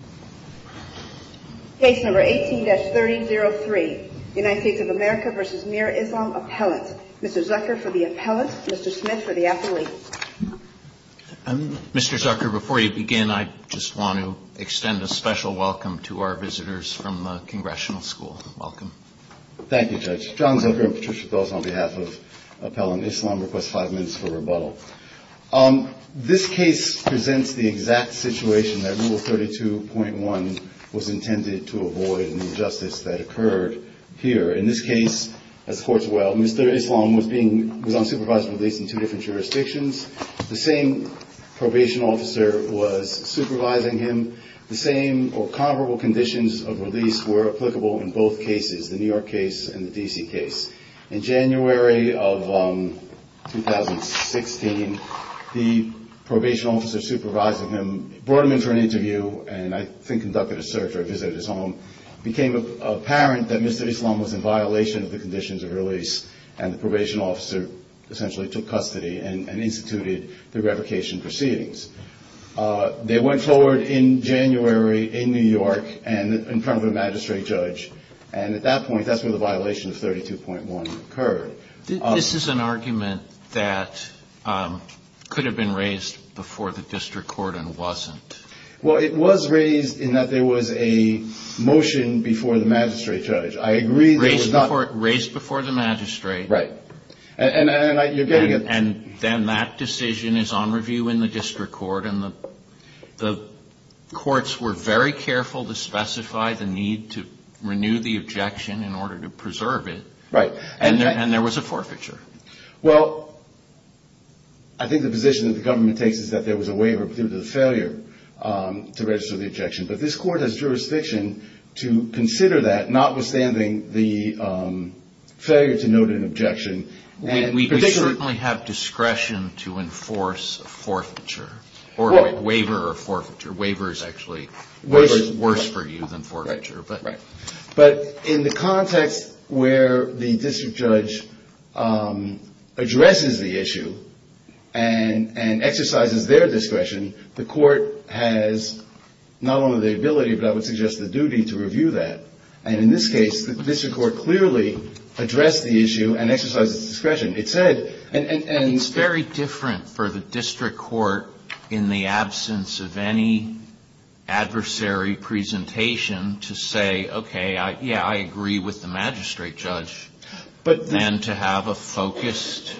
appellate. Mr. Zucker for the appellate. Mr. Smith for the athlete. Mr. Zucker, before you begin, I just want to extend a special welcome to our visitors from the Congressional School. Welcome. Thank you, Judge. John Zucker and Patricia Dawes on behalf of Appellant Islam request five minutes for rebuttal. This case presents the exact situation that Rule 32.1 was intended to avoid in the injustice that occurred here. In this case, as the Court's well, Mr. Islam was on supervised release in two different jurisdictions. The same probation officer was supervising him. The same or comparable conditions of release were applicable in both cases, the New York case and the D.C. case. In January of 2016, the probation officer supervising him brought him in for an interview and I think conducted a search or visited his home. It became apparent that Mr. Islam was in violation of the conditions of release and the probation officer essentially took custody and instituted the revocation proceedings. They went forward in January in New York in front of a magistrate judge and at that point that's when the violation of 32.1 occurred. This is an argument that could have been raised before the district court and wasn't. Well, it was raised in that there was a motion before the magistrate judge. I agree that it was not... Raised before the magistrate. Right. And I, you're getting it. And then that decision is on review in the district court and the courts were very careful to specify the need to renew the objection in order to preserve it. Right. And there was a forfeiture. Well, I think the position that the government takes is that there was a waiver due to the failure to register the objection. But this court has jurisdiction to consider that not withstanding the failure to note an objection and particularly... We certainly have discretion to enforce a forfeiture or waiver a forfeiture. Waiver is actually worse for you than forfeiture. But in the context where the district judge addresses the issue and exercises their discretion, the court has not only the ability but I would suggest the duty to review that. And in this case the district court clearly addressed the issue and exercised its discretion. It said... It's very different for the district court in the absence of any adversary presentation to say, okay, yeah, I agree with the magistrate judge. But... And to have a focused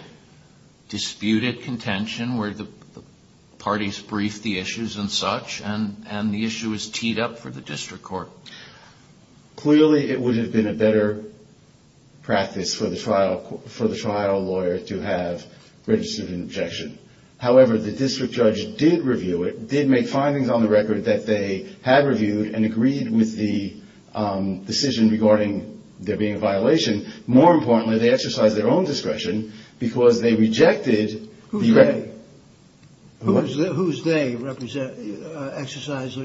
disputed contention where the parties brief the issues and such and the issue is teed up for the district court. Clearly, it would have been a better practice for the trial lawyer to have registered an objection. However, the district judge did review it, did make findings on the record that they had reviewed and agreed with the decision regarding there being a violation. More importantly, they exercised their own discretion because they rejected the record. Whose they exercised...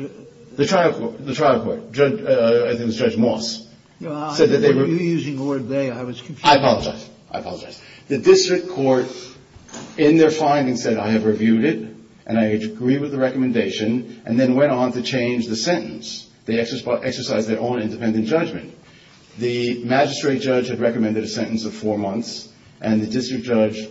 The trial court. I think it was Judge Moss. You're using the word they. I was confused. I apologize. I apologize. The district court in their findings said, I have reviewed it and I agree with the recommendation and then went on to change the sentence. They exercised their own independent judgment. The magistrate judge had recommended a sentence of four months and the district judge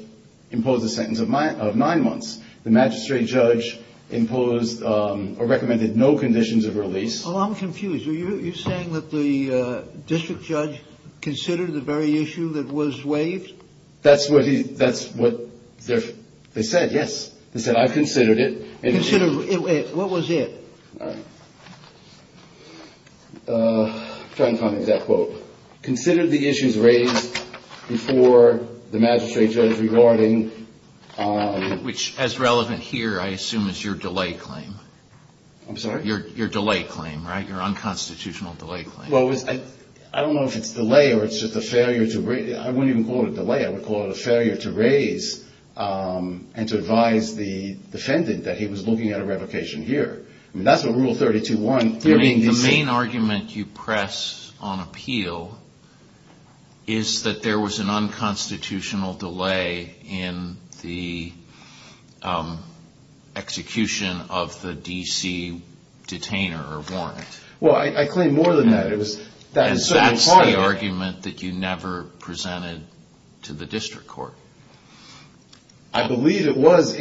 imposed a sentence of nine months. The magistrate judge imposed or recommended no conditions of release. I'm confused. Are you saying that the district judge considered the very issue that was waived? That's what they said, yes. They said, I considered it. Considered it. What was it? I'm trying to find the exact quote. Considered the issues raised before the magistrate judge regarding... Which, as relevant here, I assume is your delay claim. I'm sorry? Your delay claim, right? Your unconstitutional delay claim. I don't know if it's delay or it's just a failure to... I wouldn't even call it a delay. I would call it a failure to raise and to advise the defendant that he was looking at a revocation here. That's what Rule 32.1... The main argument you press on appeal is that there was an unconstitutional delay in the execution of the D.C. detainer or warrant. Well, I claim more than that. It was... And that's the argument that you never presented to the district court. I believe it was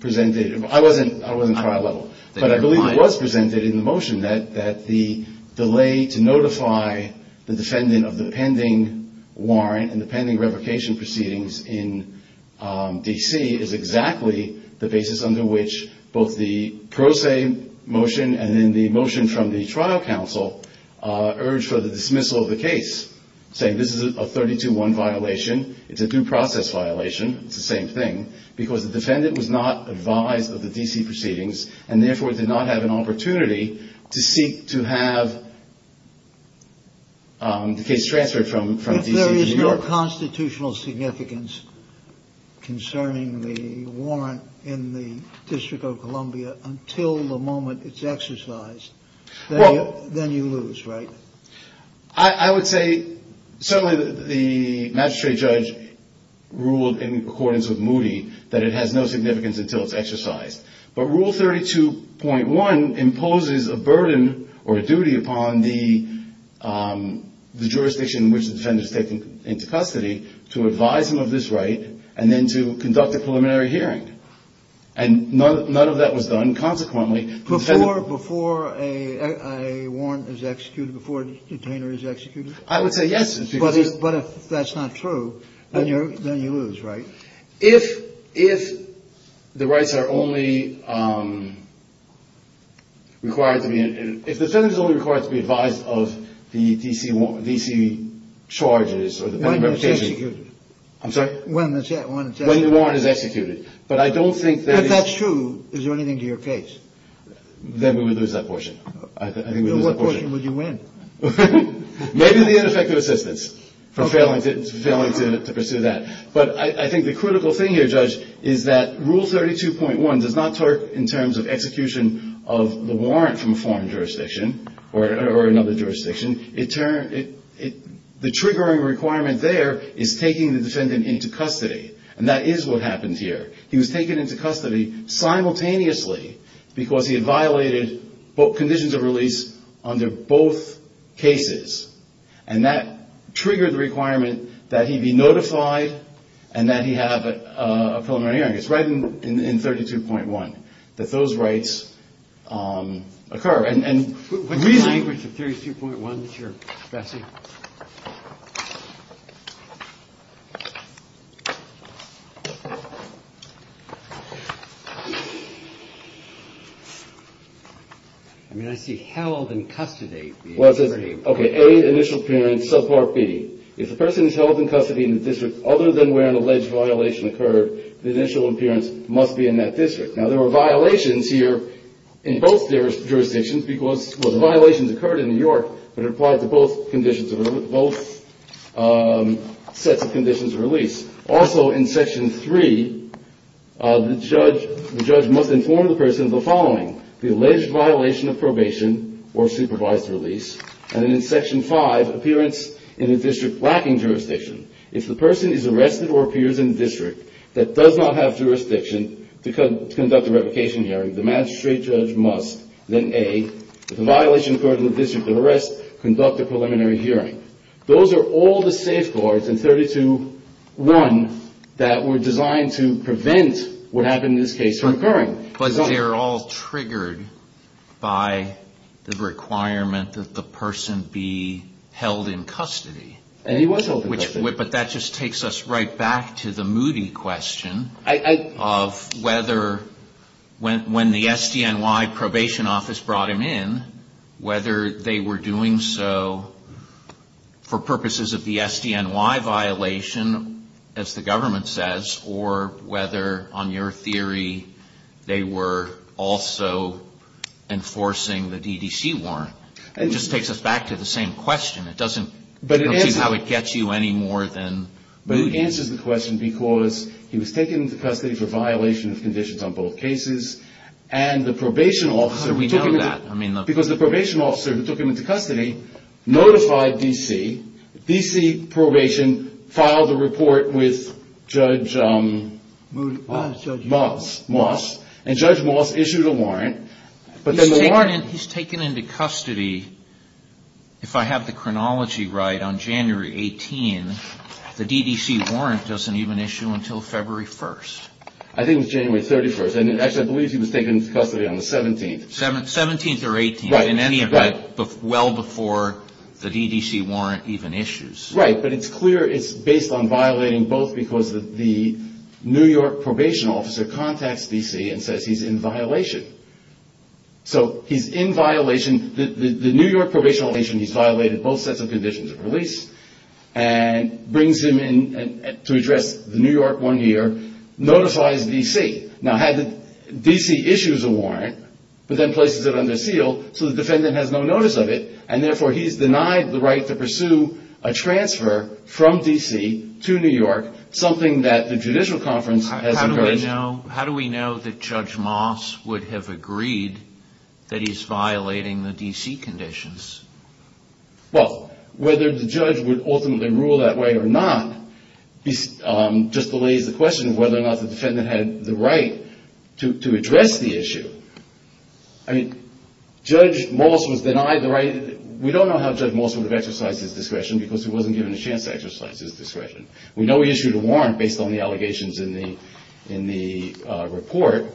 presented... I wasn't trial level. But I believe it was presented in the motion that the delay to notify the defendant of the pending warrant and the pending revocation proceedings in D.C. is exactly the basis under which both the pro se motion and then the motion from the trial counsel urged for the dismissal of the case, saying this is a 32.1 violation, it's a due process violation, it's the same thing, because the defendant was not advised of the D.C. proceedings, and therefore did not have an opportunity to seek to have the case transferred from D.C. to New York. If there's no constitutional significance concerning the warrant in the District of Columbia until the moment it's exercised, then you lose, right? I would say, certainly the magistrate judge ruled in accordance with Moody that it has no significance until it's exercised. But Rule 32.1 imposes a burden or a duty upon the jurisdiction in which the defendant is taken into custody to advise him of this right and then to conduct a preliminary hearing. And none of that was done, consequently. Before a warrant is executed, before a detainer is executed? I would say yes. But if that's not true, then you lose, right? If the rights are only required to be in an – if the defendant is only required to be advised of the D.C. charges or the pending representation. When it's executed. I'm sorry? When the warrant is executed. When the warrant is executed. But I don't think that is – If that's true, is there anything to your case? Then we would lose that portion. Then what portion would you win? Maybe the ineffective assistance for failing to pursue that. But I think the critical thing here, Judge, is that Rule 32.1 does not talk in terms of execution of the warrant from a foreign jurisdiction or another jurisdiction. The triggering requirement there is taking the defendant into custody. And that is what happened here. He was taken into custody simultaneously because he had violated conditions of release under both cases. And that triggered the requirement that he be notified and that he have a preliminary hearing. It's right in 32.1 that those rights occur. And really – What's the language of 32.1 that you're expressing? I mean, I see held in custody. Well, it says, okay, A, initial appearance, subpart B. If the person is held in custody in the district other than where an alleged violation occurred, the initial appearance must be in that district. Now, there were violations here in both jurisdictions because – well, the violations occurred in New York, but it applied to both conditions – both sets of conditions of release. Also in Section 3, the judge must inform the person of the following, the alleged violation of probation or supervised release. And then in Section 5, appearance in a district lacking jurisdiction. If the person is arrested or appears in a district that does not have jurisdiction to conduct a revocation hearing, the magistrate judge must then, A, if a violation occurred in the district of arrest, conduct a preliminary hearing. Those are all the safeguards in 32.1 that were designed to prevent what happened in this case from occurring. But they're all triggered by the requirement that the person be held in custody. But that just takes us right back to the moody question of whether when the SDNY probation office brought him in, whether they were doing so for purposes of the SDNY violation, as the government says, or whether, on your theory, they were also enforcing the DDC warrant. It just takes us back to the same question. It doesn't tell you how it gets you any more than moody. But it answers the question because he was taken into custody for violation of conditions on both cases, and the probation officer who took him into custody notified D.C. D.C. probation filed a report with Judge Moss, and Judge Moss issued a warrant. He's taken into custody, if I have the chronology right, on January 18. The D.D.C. warrant doesn't even issue until February 1. I think it was January 31. Actually, I believe he was taken into custody on the 17th. 17th or 18th, in any event, well before the D.D.C. warrant even issues. Right. But it's clear it's based on violating both because the New York probation officer contacts D.C. and says he's in violation. So he's in violation. The New York probation officer, he's violated both sets of conditions of release and brings him in to address the New York one year, notifies D.C. Now, D.C. issues a warrant, but then places it under seal so the defendant has no notice of it, and therefore he's denied the right to pursue a transfer from D.C. to New York, something that the judicial conference has encouraged. How do we know that Judge Moss would have agreed that he's violating the D.C. conditions? Well, whether the judge would ultimately rule that way or not just delays the question of whether or not the defendant had the right to address the issue. I mean, Judge Moss was denied the right. We don't know how Judge Moss would have exercised his discretion We know he issued a warrant based on the allegations in the report.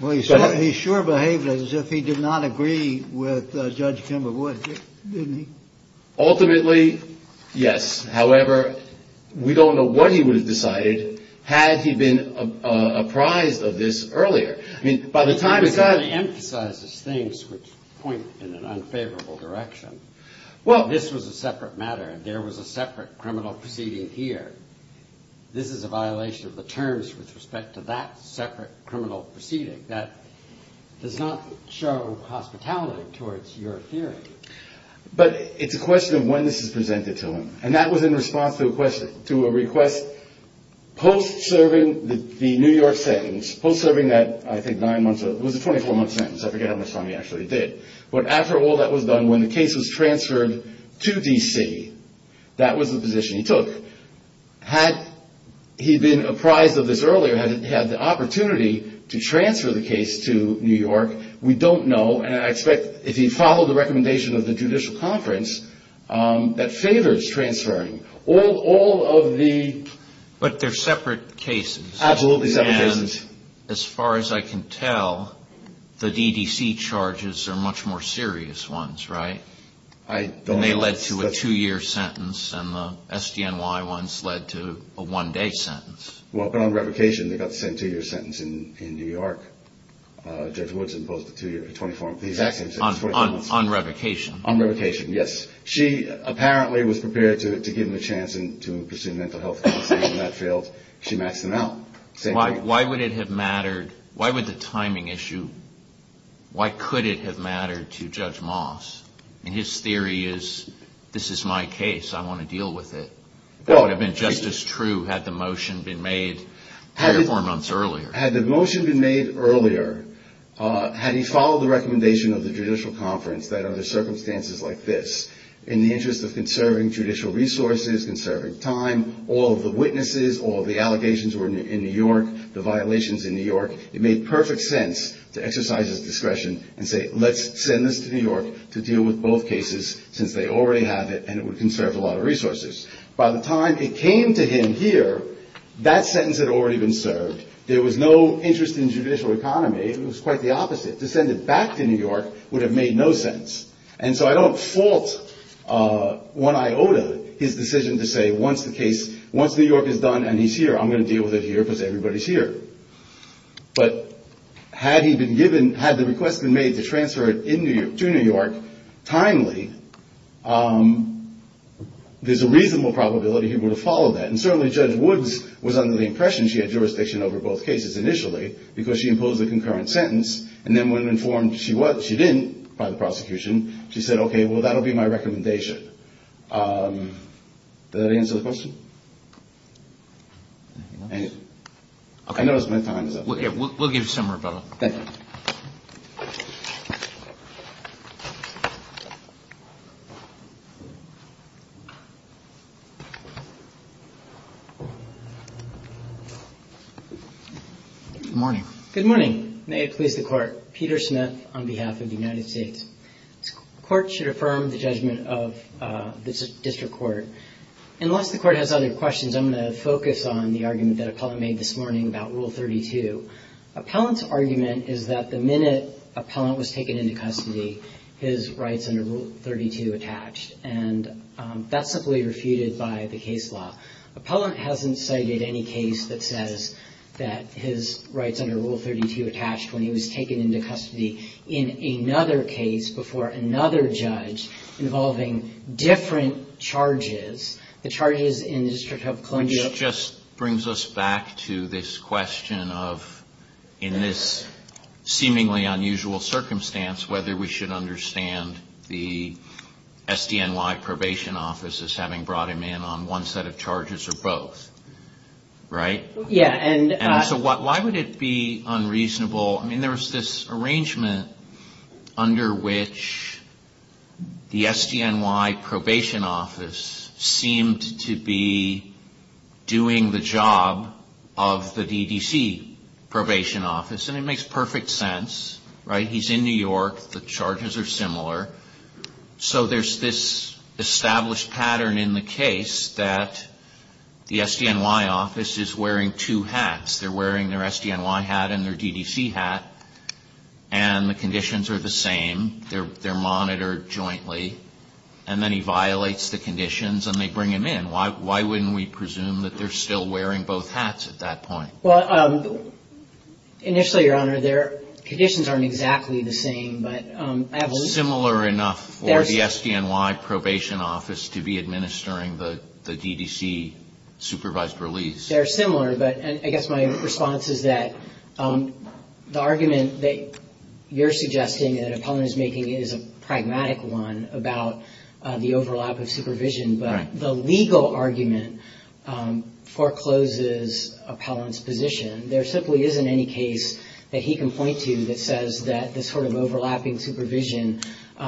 Well, he sure behaved as if he did not agree with Judge Kimberwood, didn't he? Ultimately, yes. However, we don't know what he would have decided had he been apprised of this earlier. I mean, by the time he got- He kind of emphasizes things which point in an unfavorable direction. Well, this was a separate matter, and there was a separate criminal proceeding here. This is a violation of the terms with respect to that separate criminal proceeding. That does not show hospitality towards your theory. But it's a question of when this is presented to him, and that was in response to a request post-serving the New York sentence, post-serving that, I think, nine months- It was a 24-month sentence. I forget how much time he actually did. But after all that was done, when the case was transferred to D.C., that was the position he took. Had he been apprised of this earlier, had he had the opportunity to transfer the case to New York, we don't know, and I expect if he followed the recommendation of the judicial conference, that favors transferring. All of the- But they're separate cases. Absolutely separate cases. And as far as I can tell, the D.D.C. charges are much more serious ones, right? I don't- And they led to a two-year sentence, and the S.D.N.Y. ones led to a one-day sentence. Well, but on revocation, they got the same two-year sentence in New York. Judge Woods imposed a 24-month- The exact same sentence. On revocation. On revocation, yes. She apparently was prepared to give him a chance to pursue mental health counseling, and that failed. She maxed them out. Why would it have mattered, why would the timing issue, why could it have mattered to Judge Moss? And his theory is, this is my case, I want to deal with it. That would have been just as true had the motion been made 24 months earlier. Had the motion been made earlier, had he followed the recommendation of the judicial conference, that under circumstances like this, in the interest of conserving judicial resources, conserving time, all of the witnesses, all of the allegations were in New York, the violations in New York, it made perfect sense to exercise his discretion and say, let's send this to New York to deal with both cases, since they already have it, and it would conserve a lot of resources. By the time it came to him here, that sentence had already been served. There was no interest in judicial economy. It was quite the opposite. To send it back to New York would have made no sense. And so I don't fault one iota his decision to say, once the case, once New York is done and he's here, I'm going to deal with it here because everybody's here. But had he been given, had the request been made to transfer it to New York timely, there's a reasonable probability he would have followed that. And certainly Judge Woods was under the impression she had jurisdiction over both cases initially, because she imposed a concurrent sentence, and then when informed she didn't by the prosecution, she said, okay, well, that will be my recommendation. Does that answer the question? I know it's been time. We'll give you some more time. Thank you. Good morning. Good morning. May it please the Court. Peter Smith on behalf of the United States. The Court should affirm the judgment of the District Court. Unless the Court has other questions, I'm going to focus on the argument that Appellant made this morning about Rule 32. Appellant's argument is that the minute Appellant was taken into custody, his rights under Rule 32 attached. And that's simply refuted by the case law. Appellant hasn't cited any case that says that his rights under Rule 32 attached when he was taken into custody in another case before another judge involving different charges, the charges in the District of Columbia. This just brings us back to this question of, in this seemingly unusual circumstance, whether we should understand the SDNY Probation Office as having brought him in on one set of charges or both. Right? Yeah. And so why would it be unreasonable? I mean, there was this arrangement under which the SDNY Probation Office seemed to be doing the job of the DDC Probation Office. And it makes perfect sense. Right? He's in New York. The charges are similar. So there's this established pattern in the case that the SDNY Office is wearing two hats. They're wearing their SDNY hat and their DDC hat. And the conditions are the same. They're monitored jointly. And then he violates the conditions and they bring him in. Why wouldn't we presume that they're still wearing both hats at that point? Well, initially, Your Honor, their conditions aren't exactly the same. But I believe they're similar enough for the SDNY Probation Office to be administering the DDC supervised release. They're similar. But I guess my response is that the argument that you're suggesting that Appellant is making is a pragmatic one about the overlap of supervision. But the legal argument forecloses Appellant's position. There simply isn't any case that he can point to that says that this sort of overlapping supervision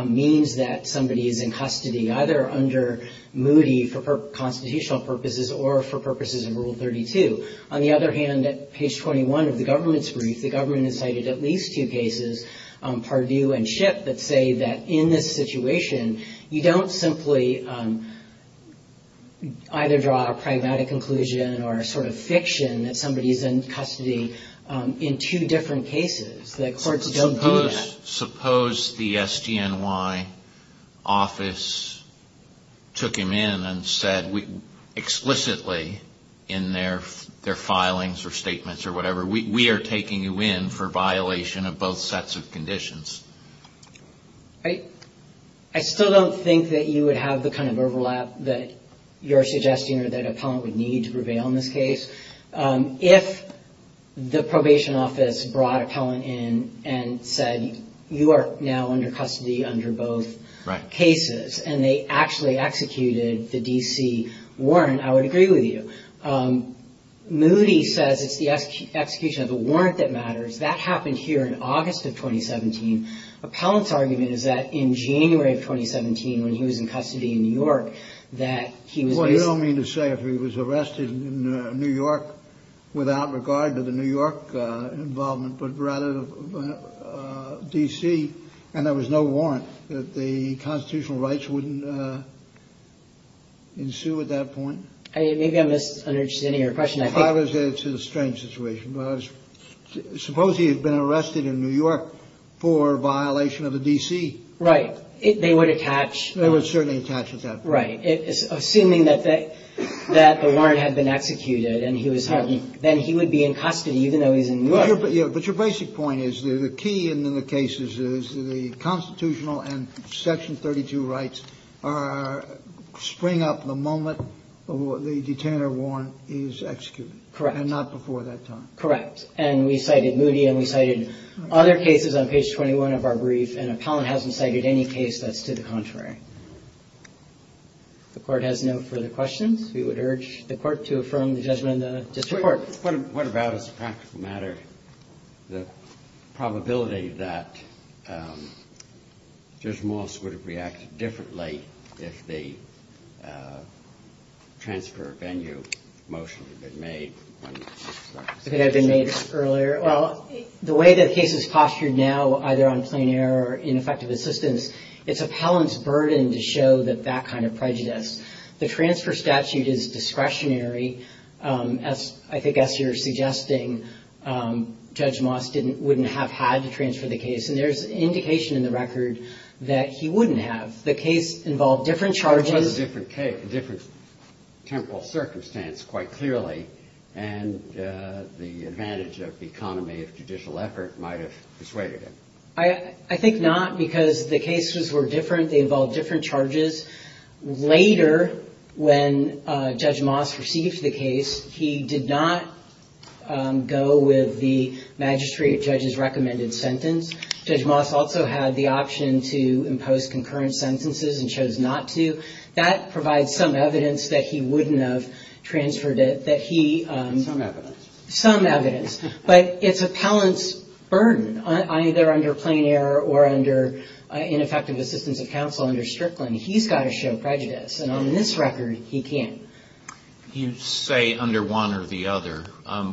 means that somebody is in custody, either under Moody for constitutional purposes or for purposes of Rule 32. On the other hand, at page 21 of the government's brief, the government has cited at least two cases, Pardue and Shipp, that say that in this situation you don't simply either draw a pragmatic conclusion or a sort of fiction that somebody is in custody in two different cases. The courts don't do that. But suppose the SDNY Office took him in and said explicitly in their filings or statements or whatever, we are taking you in for violation of both sets of conditions. I still don't think that you would have the kind of overlap that you're suggesting or that Appellant would need to prevail in this case. If the probation office brought Appellant in and said, you are now under custody under both cases, and they actually executed the D.C. warrant, I would agree with you. Moody says it's the execution of the warrant that matters. That happened here in August of 2017. Appellant's argument is that in January of 2017, when he was in custody in New York, that he was... without regard to the New York involvement, but rather the D.C., and there was no warrant that the constitutional rights wouldn't ensue at that point? Maybe I'm just understanding your question. It's a strange situation. Suppose he had been arrested in New York for violation of the D.C. Right. They would attach... They would certainly attach at that point. Right. Assuming that the warrant had been executed and he was held, then he would be in custody even though he's in New York. But your basic point is the key in the cases is the constitutional and Section 32 rights spring up the moment the detainer warrant is executed. Correct. And not before that time. Correct. And we cited Moody and we cited other cases on page 21 of our brief, and appellant hasn't cited any case that's to the contrary. The court has no further questions. We would urge the court to affirm the judgment of the district court. What about as a practical matter the probability that Judge Moss would have reacted differently if the transfer of venue motion had been made? It could have been made earlier. Well, the way that the case is postured now, either on plain error or ineffective assistance, it's appellant's burden to show that that kind of prejudice. The transfer statute is discretionary. As I guess you're suggesting, Judge Moss wouldn't have had to transfer the case. And there's indication in the record that he wouldn't have. The case involved different charges. It was a different temporal circumstance, quite clearly, and the advantage of the economy of judicial effort might have persuaded him. I think not, because the cases were different. They involved different charges. Later, when Judge Moss received the case, he did not go with the magistrate judge's recommended sentence. Judge Moss also had the option to impose concurrent sentences and chose not to. That provides some evidence that he wouldn't have transferred it, that he — Some evidence. Some evidence. But it's appellant's burden, either under plain error or under ineffective assistance of counsel under Strickland. He's got to show prejudice, and on this record, he can't. You say under one or the other.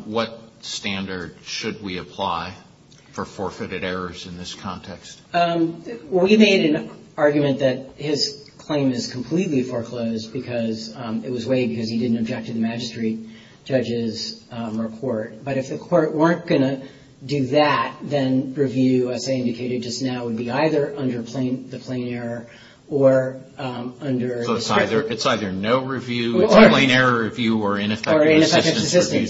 What standard should we apply for forfeited errors in this context? We made an argument that his claim is completely foreclosed because it was weighed because he didn't object to the magistrate judge's report. But if the court weren't going to do that, then review, as they indicated just now, would be either under the plain error or under discretion. So it's either no review, plain error review, or ineffective assistance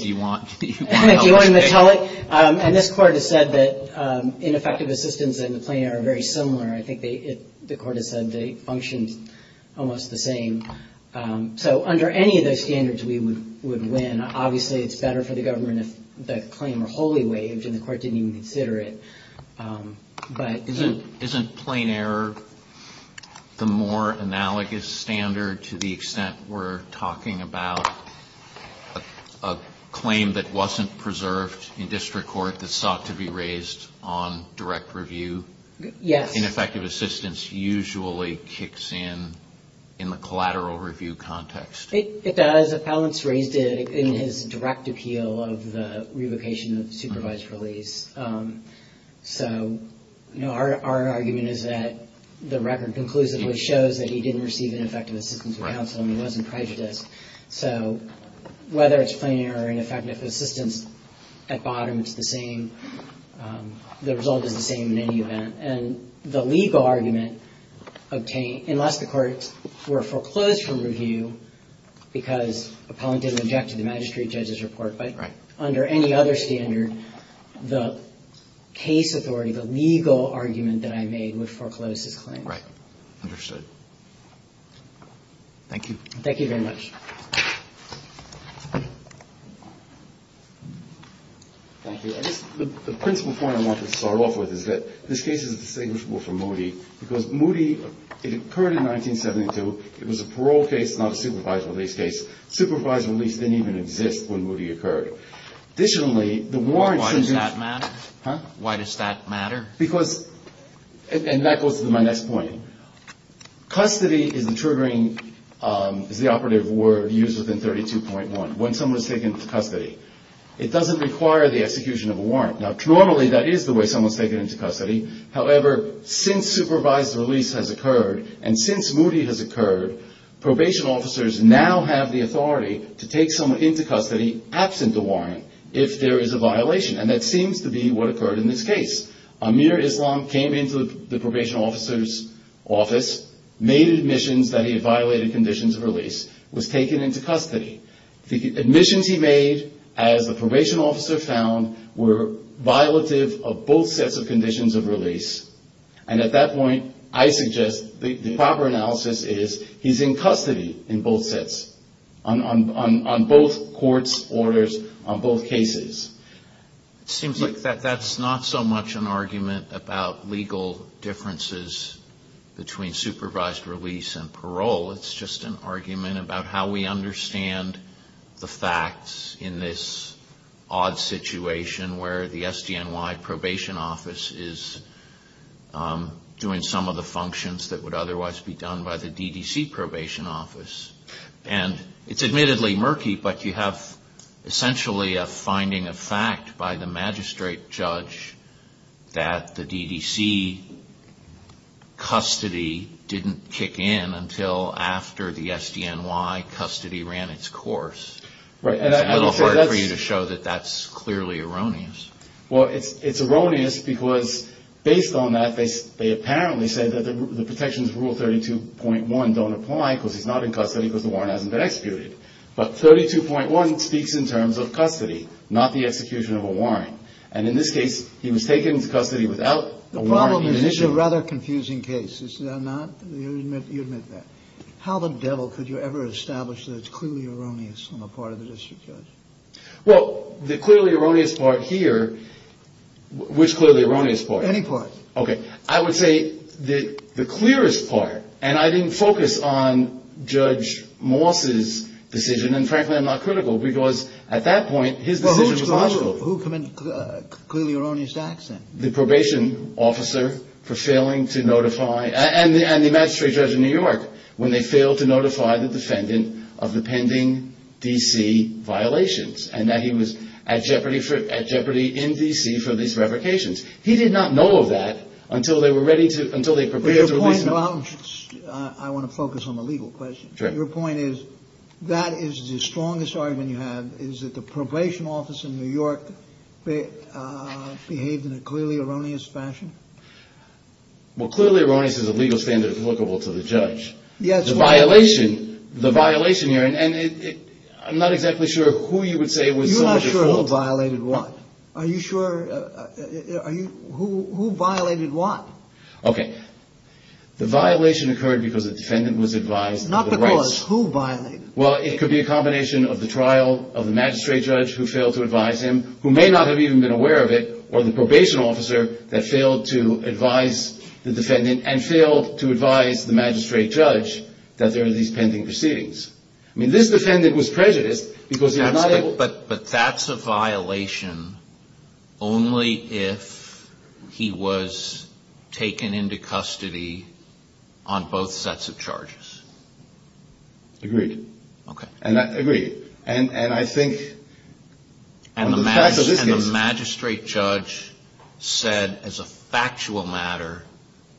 review. Or ineffective assistance. Do you want me to tell it? And this court has said that ineffective assistance and the plain error are very similar. I think the court has said they function almost the same. So under any of those standards, we would win. Obviously, it's better for the government if the claim were wholly waived, and the court didn't even consider it. Isn't plain error the more analogous standard to the extent we're talking about a claim that wasn't preserved in district court that sought to be raised on direct review? Yes. Ineffective assistance usually kicks in in the collateral review context. It does. Appellants raised it in his direct appeal of the revocation of supervised release. So, you know, our argument is that the record conclusively shows that he didn't receive ineffective assistance from counsel and he wasn't prejudiced. So whether it's plain error or ineffective assistance, at bottom, it's the same. The result is the same in any event. And the legal argument, unless the courts were foreclosed from review because appellant didn't object to the magistrate judge's report, but under any other standard, the case authority, the legal argument that I made would foreclose his claim. Right. Understood. Thank you. Thank you very much. Thank you. The principal point I want to start off with is that this case is distinguishable from Moody because Moody, it occurred in 1972. It was a parole case, not a supervised release case. Supervised release didn't even exist when Moody occurred. Additionally, the warrant. Why does that matter? Huh? Why does that matter? Because, and that goes to my next point. Custody is the triggering, is the operative word used within 32.1. When someone is taken into custody, it doesn't require the execution of a warrant. Now, normally that is the way someone is taken into custody. However, since supervised release has occurred and since Moody has occurred, probation officers now have the authority to take someone into custody absent the warrant if there is a violation, and that seems to be what occurred in this case. Amir Islam came into the probation officer's office, made admissions that he had violated conditions of release, was taken into custody. The admissions he made, as the probation officer found, were violative of both sets of conditions of release. And at that point, I suggest the proper analysis is he's in custody in both sets, on both courts' orders, on both cases. It seems like that's not so much an argument about legal differences between supervised release and parole. It's just an argument about how we understand the facts in this odd situation where the SDNY probation office is doing some of the functions that would otherwise be done by the DDC probation office. And it's admittedly murky, but you have essentially a finding of fact by the magistrate judge that the DDC custody didn't kick in until after the SDNY custody ran its course. It's a little hard for you to show that that's clearly erroneous. Well, it's erroneous because based on that, they apparently said that the protections of Rule 32.1 don't apply because he's not in custody because the warrant hasn't been executed. But 32.1 speaks in terms of custody, not the execution of a warrant. And in this case, he was taken into custody without a warrant being issued. The problem is it's a rather confusing case. Is that not? You admit that. How the devil could you ever establish that it's clearly erroneous on the part of the district judge? Well, the clearly erroneous part here. Which clearly erroneous part? Any part. Okay. I would say the clearest part. And I didn't focus on Judge Moss's decision. And frankly, I'm not critical because at that point, his decision was logical. Who committed clearly erroneous acts then? The probation officer for failing to notify. And the magistrate judge in New York when they failed to notify the defendant of the pending D.C. violations and that he was at jeopardy in D.C. for these revocations. He did not know of that until they were ready to – until they prepared to release him. I want to focus on the legal question. Sure. Your point is that is the strongest argument you have is that the probation officer in New York behaved in a clearly erroneous fashion? Well, clearly erroneous is a legal standard applicable to the judge. Yes. The violation – the violation here – and I'm not exactly sure who you would say was so much at fault. You're not sure who violated what? Are you sure – are you – who violated what? Okay. The violation occurred because the defendant was advised of the rights. Not because. Who violated? Well, it could be a combination of the trial of the magistrate judge who failed to advise him, who may not have even been aware of it, or the probation officer that failed to advise the defendant and failed to advise the magistrate judge that there are these pending proceedings. I mean, this defendant was prejudiced because he was not able – But that's a violation only if he was taken into custody on both sets of charges. Agreed. Okay. And I agree. And I think – And the magistrate judge said as a factual matter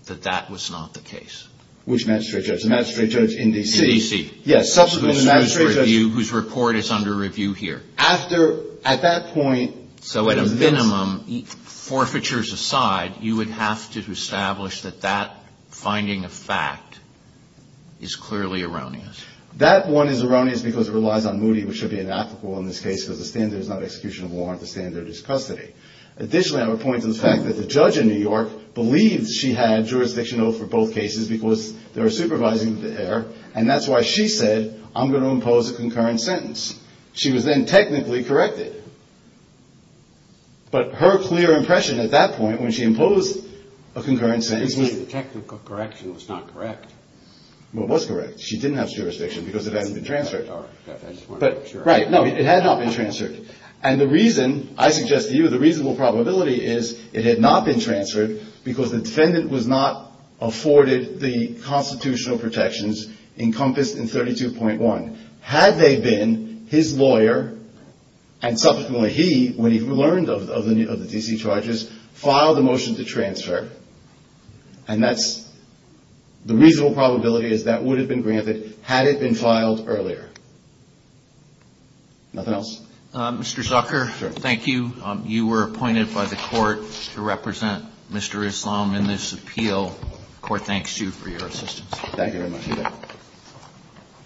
that that was not the case. Which magistrate judge? The magistrate judge in D.C. In D.C. Yes. Whose report is under review here. After – at that point – So at a minimum, forfeitures aside, you would have to establish that that finding of fact is clearly erroneous. That one is erroneous because it relies on Moody, which should be an applicable in this case, because the standard is not execution of warrant. The standard is custody. Additionally, I would point to the fact that the judge in New York believed she had jurisdiction over both cases because they were supervising the heir, and that's why she said, I'm going to impose a concurrent sentence. She was then technically corrected. But her clear impression at that point when she imposed a concurrent sentence was – Technically, the technical correction was not correct. Well, it was correct. She didn't have jurisdiction because it hadn't been transferred. Right. No, it had not been transferred. And the reason – I suggest to you the reasonable probability is it had not been transferred because the defendant was not afforded the constitutional protections encompassed in 32.1. Had they been, his lawyer, and subsequently he, when he learned of the D.C. charges, filed the motion to transfer. And that's – the reasonable probability is that would have been granted had it been filed earlier. Nothing else? Mr. Zucker, thank you. You were appointed by the Court to represent Mr. Islam in this appeal. The Court thanks you for your assistance. Thank you very much. You bet.